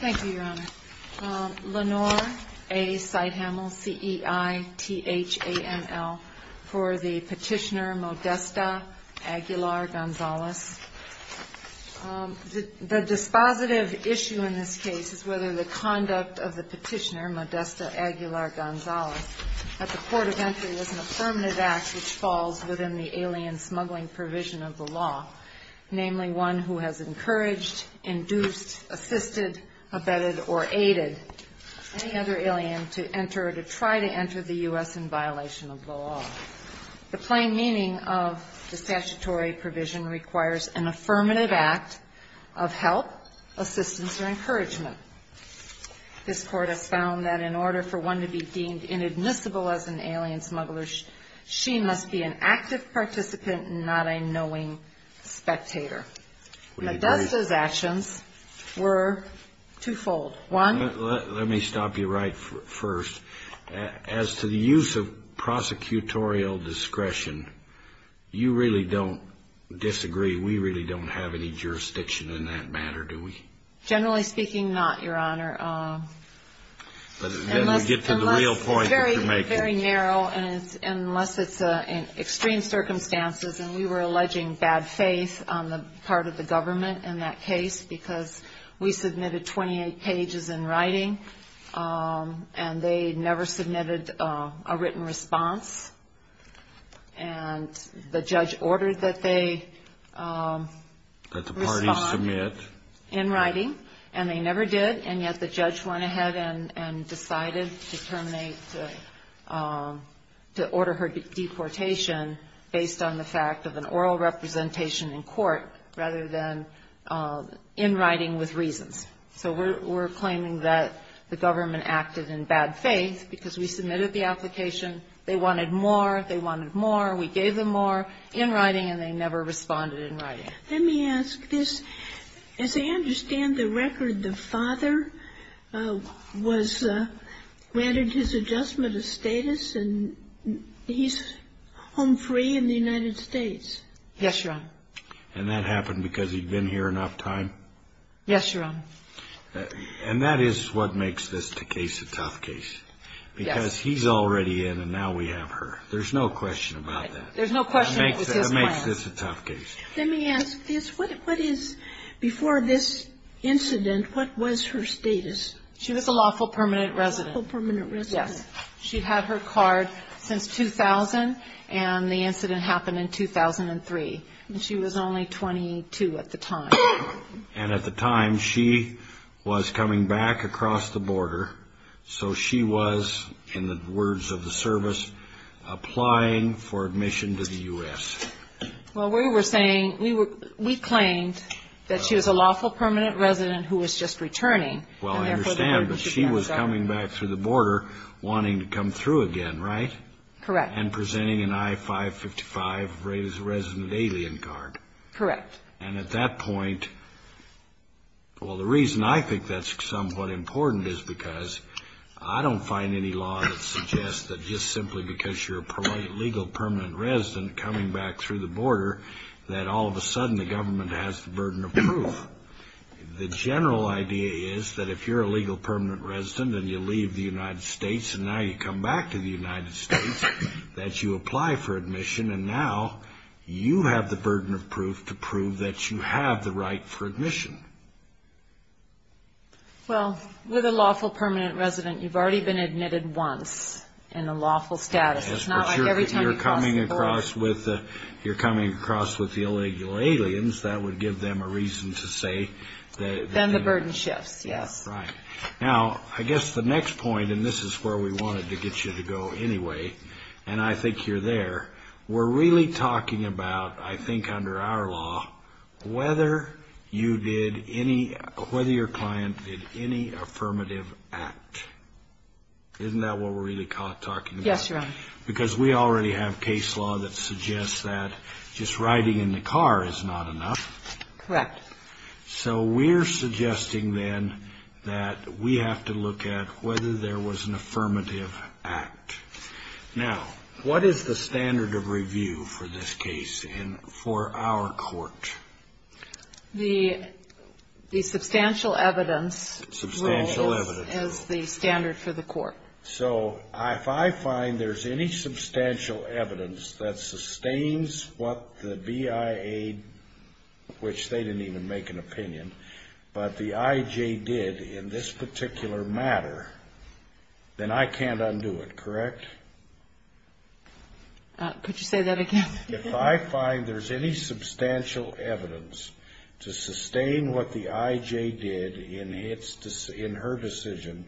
Thank you, Your Honor. Lenore A. Seithammel, C-E-I-T-H-A-M-M-L, for the petitioner Modesta Aguilar Gonzalez. The dispositive issue in this case is whether the conduct of the petitioner, Modesta Aguilar Gonzalez, at the court of entry was an affirmative act which falls within the alien smuggling provision of the law, namely one who has encouraged, induced, assisted, abetted, or aided any other alien to enter or to try to enter the U.S. in violation of the law. The plain meaning of the statutory provision requires an affirmative act of help, assistance, or encouragement. This court has found that in order for one to be deemed inadmissible as an alien smuggler, she must be an active participant and not a knowing spectator. Modesta's actions were twofold. One Let me stop you right first. As to the use of prosecutorial discretion, you really don't disagree. We really don't have any jurisdiction in that matter, do we? Generally speaking, not, Your Honor. Unless Then we get to the real point that you're making. It's very narrow, and unless it's in extreme circumstances, and we were alleging bad faith on the part of the government in that case because we submitted 28 pages in writing, and they never submitted a written response, and the judge ordered that they respond in writing. And they never did, and yet the judge went ahead and decided to terminate the – to order her deportation based on the fact of an oral representation in court rather than in writing with reasons. So we're claiming that the government acted in bad faith because we submitted the application. They wanted more. They wanted more. We gave them more in writing, and they never responded in writing. Let me ask this. As I understand the record, the father was – granted his adjustment of status, and he's home free in the United States. Yes, Your Honor. And that happened because he'd been here enough time? Yes, Your Honor. And that is what makes this case a tough case. Yes. Because he's already in, and now we have her. There's no question about that. There's no question it was his plan. It makes this a tough case. Let me ask this. What is – before this incident, what was her status? She was a lawful permanent resident. Lawful permanent resident. Yes. She'd had her card since 2000, and the incident happened in 2003. And she was only 22 at the time. And at the time, she was coming back across the border, so she was, in the words of the service, applying for admission to the U.S. Well, we were saying – we claimed that she was a lawful permanent resident who was just returning. Well, I understand, but she was coming back through the border wanting to come through again, right? Correct. And presenting an I-555 resident alien card. Correct. And at that point – well, the reason I think that's somewhat important is because I don't find any law that suggests that just simply because you're a legal permanent resident coming back through the border that all of a sudden the government has the burden of proof. The general idea is that if you're a legal permanent resident and you leave the United States and now you come back to the United States, that you apply for admission and now you have the burden of proof to prove that you have the right for admission. Well, with a lawful permanent resident, you've already been admitted once in a lawful status. Yes, but you're coming across with the illegal aliens, that would give them a reason to say that – Then the burden shifts, yes. Right. Now, I guess the next point, and this is where we wanted to get you to go anyway, and I think you're there, we're really talking about, I think under our law, whether you did any – whether your client did any affirmative act. Isn't that what we're really talking about? Yes, Your Honor. Because we already have case law that suggests that just riding in the car is not enough. Correct. So we're suggesting then that we have to look at whether there was an affirmative act. Now, what is the standard of review for this case and for our court? The substantial evidence rule is the standard for the court. So if I find there's any substantial evidence that sustains what the BIA, which they didn't even make an opinion, but the IJ did in this particular matter, then I can't undo it, correct? Could you say that again? If I find there's any substantial evidence to sustain what the IJ did in her decision,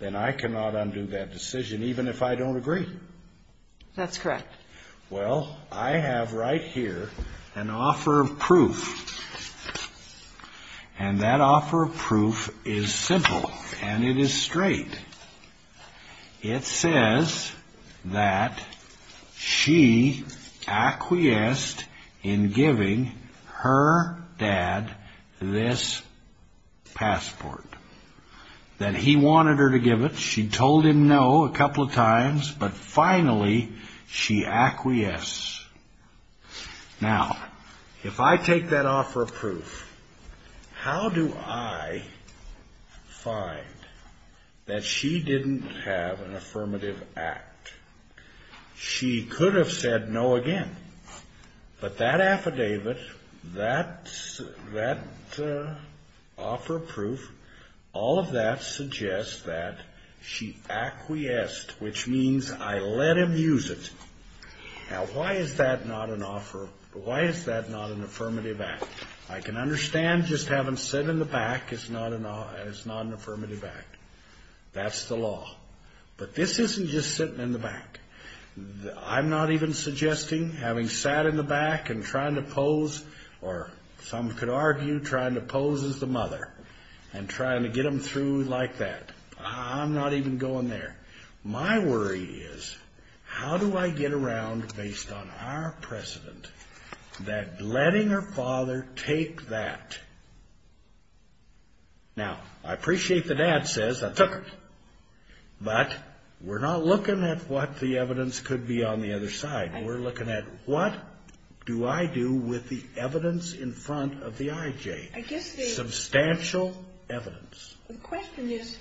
then I cannot undo that decision, even if I don't agree. That's correct. Well, I have right here an offer of proof, and that offer of proof is simple, and it is straight. It says that she acquiesced in giving her dad this passport, that he wanted her to give it. She told him no a couple of times, but finally she acquiesced. Now, if I take that offer of proof, how do I find that she didn't have an affirmative act? She could have said no again, but that affidavit, that offer of proof, all of that suggests that she acquiesced, which means I let him use it. Now, why is that not an offer? Why is that not an affirmative act? I can understand just having said in the back it's not an affirmative act. That's the law. But this isn't just sitting in the back. I'm not even suggesting having sat in the back and trying to pose, or some could argue trying to pose as the mother, and trying to get them through like that. I'm not even going there. My worry is how do I get around, based on our precedent, that letting her father take that. Now, I appreciate the dad says, I took it, but we're not looking at what the evidence could be on the other side. We're looking at what do I do with the evidence in front of the IJ, substantial evidence. The question is,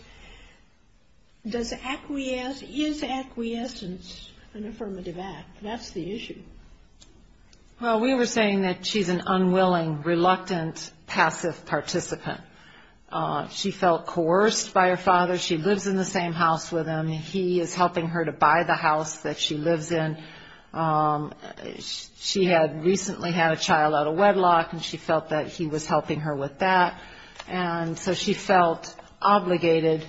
does acquiesce, is acquiescence an affirmative act? That's the issue. Well, we were saying that she's an unwilling, reluctant, passive participant. She felt coerced by her father. She lives in the same house with him. He is helping her to buy the house that she lives in. She had recently had a child out of wedlock, and she felt that he was helping her with that. And so she felt obligated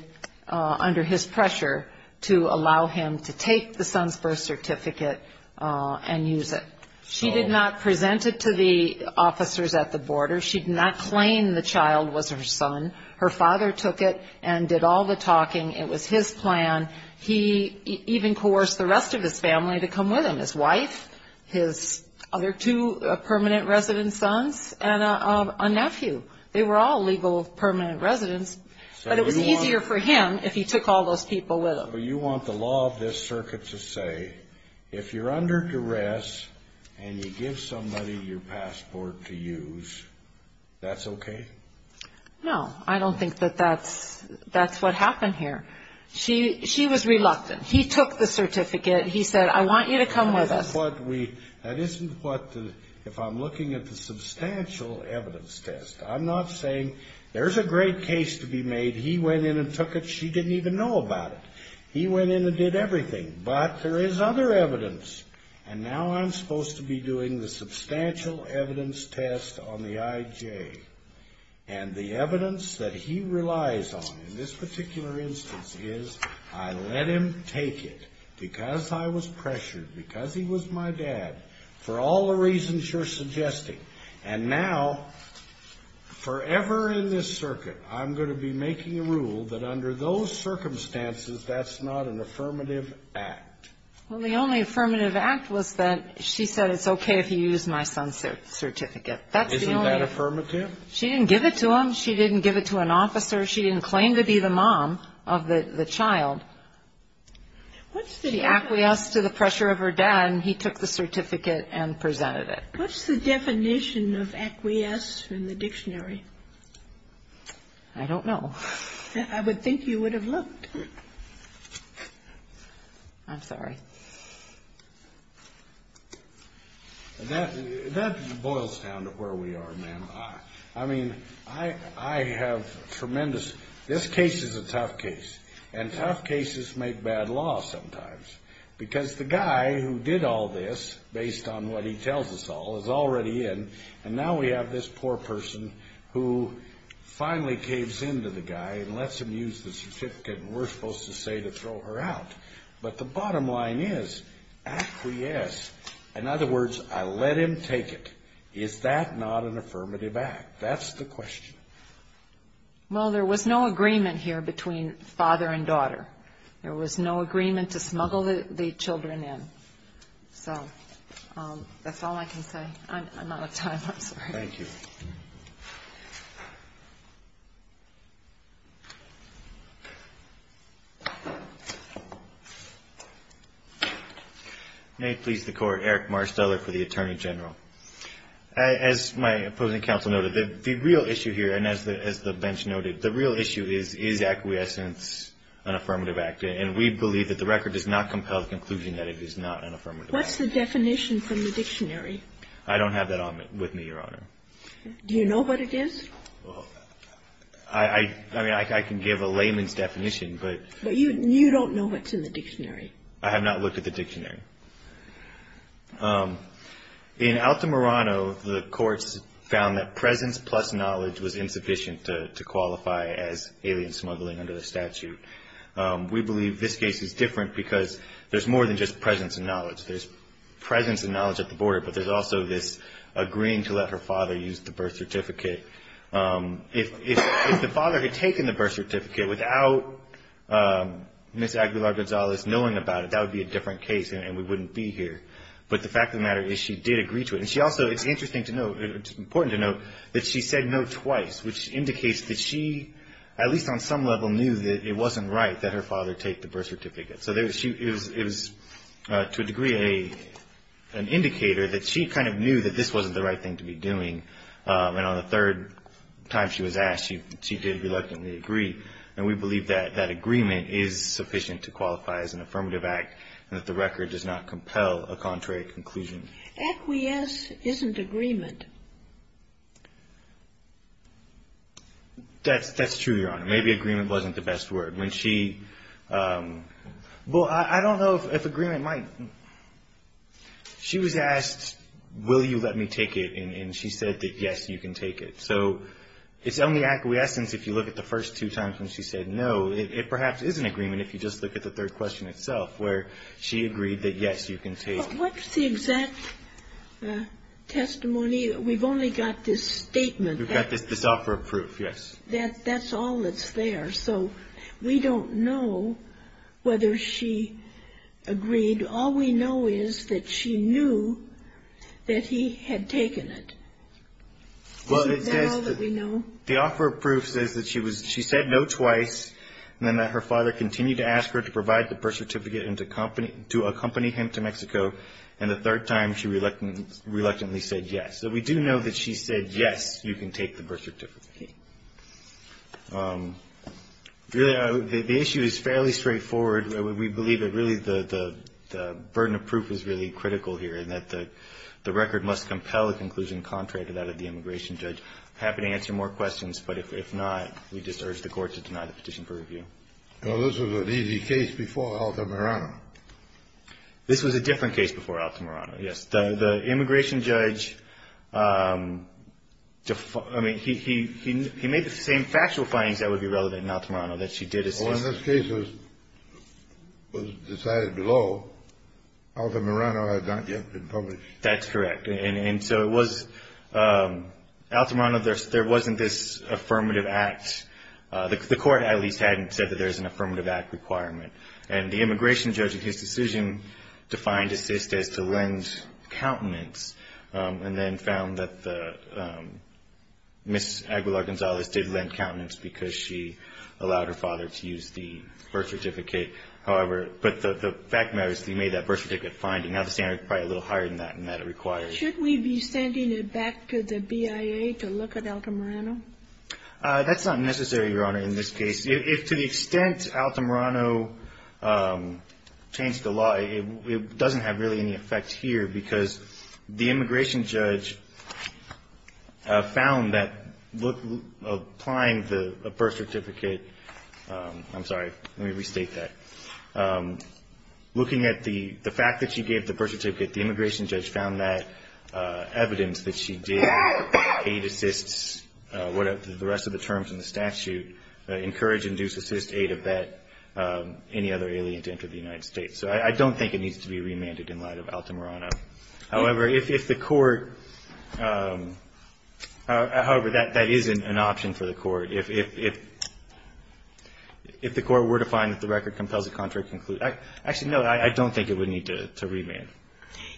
under his pressure to allow him to take the son's birth certificate and use it. She did not present it to the officers at the border. She did not claim the child was her son. Her father took it and did all the talking. It was his plan. He even coerced the rest of his family to come with him, his wife, his other two permanent resident sons, and a nephew. They were all legal permanent residents, but it was easier for him if he took all those people with him. So you want the law of this circuit to say, if you're under duress and you give somebody your passport to use, that's okay? No, I don't think that that's what happened here. She was reluctant. He took the certificate. He said, I want you to come with us. That isn't what, if I'm looking at the substantial evidence test, I'm not saying there's a great case to be made. He went in and took it. She didn't even know about it. He went in and did everything. But there is other evidence. And now I'm supposed to be doing the substantial evidence test on the IJ. And the evidence that he relies on in this particular instance is, I let him take it. Because I was pressured, because he was my dad, for all the reasons you're suggesting. And now, forever in this circuit, I'm going to be making a rule that under those circumstances, that's not an affirmative act. Well, the only affirmative act was that she said, it's okay if you use my son's certificate. Isn't that affirmative? She didn't give it to him. She didn't give it to an officer. She didn't claim to be the mom of the child. She acquiesced to the pressure of her dad, and he took the certificate and presented it. What's the definition of acquiesce in the dictionary? I don't know. I would think you would have looked. I'm sorry. That boils down to where we are, ma'am. I mean, I have tremendous this case is a tough case. And tough cases make bad law sometimes. Because the guy who did all this, based on what he tells us all, is already in. And now we have this poor person who finally caves into the guy and lets him use the certificate we're supposed to say to throw her out. But the bottom line is, acquiesce. In other words, I let him take it. Is that not an affirmative act? That's the question. Well, there was no agreement here between father and daughter. There was no agreement to smuggle the children in. So that's all I can say. I'm out of time. I'm sorry. Thank you. May it please the Court. Eric Marsteller for the Attorney General. As my opposing counsel noted, the real issue here, and as the bench noted, the real issue is, is acquiescence an affirmative act? And we believe that the record does not compel the conclusion that it is not an affirmative act. What's the definition from the dictionary? I don't have that with me, Your Honor. Do you know what it is? I mean, I can give a layman's definition, but. But you don't know what's in the dictionary. I have not looked at the dictionary. In Altamirano, the courts found that presence plus knowledge was insufficient to qualify as alien smuggling under the statute. We believe this case is different because there's more than just presence and knowledge. There's presence and knowledge at the border, but there's also this agreeing to let her father use the birth certificate. If the father had taken the birth certificate without Ms. Aguilar-Gonzalez knowing about it, that would be a different case. And we wouldn't be here. But the fact of the matter is, she did agree to it. And she also, it's interesting to note, it's important to note that she said no twice, which indicates that she, at least on some level, knew that it wasn't right that her father take the birth certificate. So it was, to a degree, an indicator that she kind of knew that this wasn't the right thing to be doing. And on the third time she was asked, she did reluctantly agree. And we believe that that agreement is sufficient to qualify as an affirmative act and that the record does not compel a contrary conclusion. Aguies isn't agreement. That's true, Your Honor. Maybe agreement wasn't the best word. When she – well, I don't know if agreement might – she was asked, will you let me take it, and she said that, yes, you can take it. So it's only acquiescence if you look at the first two times when she said no. It perhaps is an agreement if you just look at the third question itself, where she agreed that, yes, you can take it. But what's the exact testimony? We've only got this statement. We've got this offer of proof, yes. That's all that's there. So we don't know whether she agreed. All we know is that she knew that he had taken it. Well, it says that the offer of proof says that she was – she said no twice, and then that her father continued to ask her to provide the birth certificate and to accompany him to Mexico. And the third time, she reluctantly said yes. So we do know that she said, yes, you can take the birth certificate. Really, the issue is fairly straightforward. We believe that, really, the burden of proof is really critical here, and that the record must compel a conclusion contrary to that of the immigration judge. I happen to answer more questions, but if not, we just urge the Court to deny the petition for review. Well, this was an easy case before Altamirano. This was a different case before Altamirano, yes. The immigration judge – I mean, he made the same factual findings that would be relevant in Altamirano that she did as his – Well, in this case, it was decided below. Altamirano had not yet been published. That's correct. And so it was – Altamirano, there wasn't this affirmative act. The Court at least hadn't said that there's an affirmative act requirement. And the immigration judge, in his decision, defined assist as to lend countenance, and then found that the – Ms. Aguilar-Gonzalez did lend countenance because she allowed her father to use the birth certificate. However – but the fact of the matter is he made that birth certificate finding. Now, the standard is probably a little higher than that in that it requires. Should we be sending it back to the BIA to look at Altamirano? That's not necessary, Your Honor, in this case. If to the extent Altamirano changed the law, it doesn't have really any effect here because the immigration judge found that applying the birth certificate – I'm sorry. Let me restate that. Looking at the fact that she gave the birth certificate, the immigration judge found that evidence that she did aid, assist, whatever the rest of the terms in the statute, encourage, induce, assist, aid, abet any other alien to enter the United States. So I don't think it needs to be remanded in light of Altamirano. However, if the Court – however, that isn't an option for the Court. If the Court were to find that the record compels a contrary conclusion – actually, no, I don't think it would need to remand.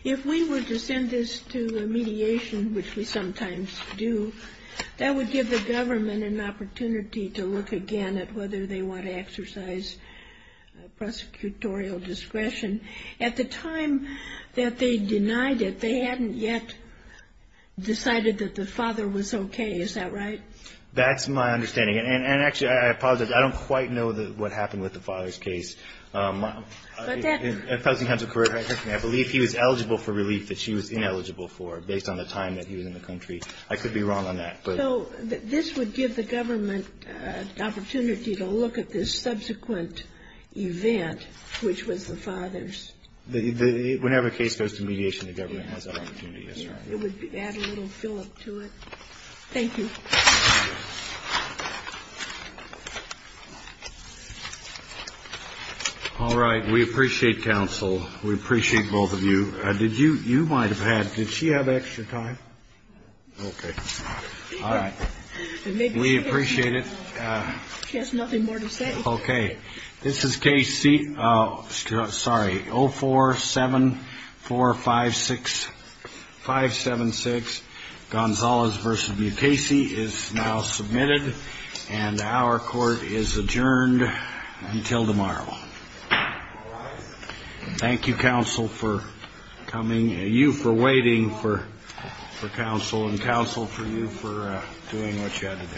If we were to send this to a mediation, which we sometimes do, that would give the government an opportunity to look again at whether they want to exercise prosecutorial discretion. At the time that they denied it, they hadn't yet decided that the father was okay. Is that right? That's my understanding. And actually, I apologize. I don't quite know what happened with the father's case. But that – I believe he was eligible for relief that she was ineligible for, based on the time that he was in the country. I could be wrong on that. So this would give the government an opportunity to look at this subsequent event, which was the father's. Whenever a case goes to mediation, the government has that opportunity, yes, Your Honor. It would add a little fill-up to it. Thank you. All right. We appreciate counsel. We appreciate both of you. Did you – you might have had – did she have extra time? Okay. All right. We appreciate it. She has nothing more to say. Okay. This is case C – sorry, 047456576, Gonzalez v. Mukasey, is now submitted. And our court is adjourned until tomorrow. Thank you, counsel, for coming – you for waiting for counsel, and counsel for you for doing what you had to do.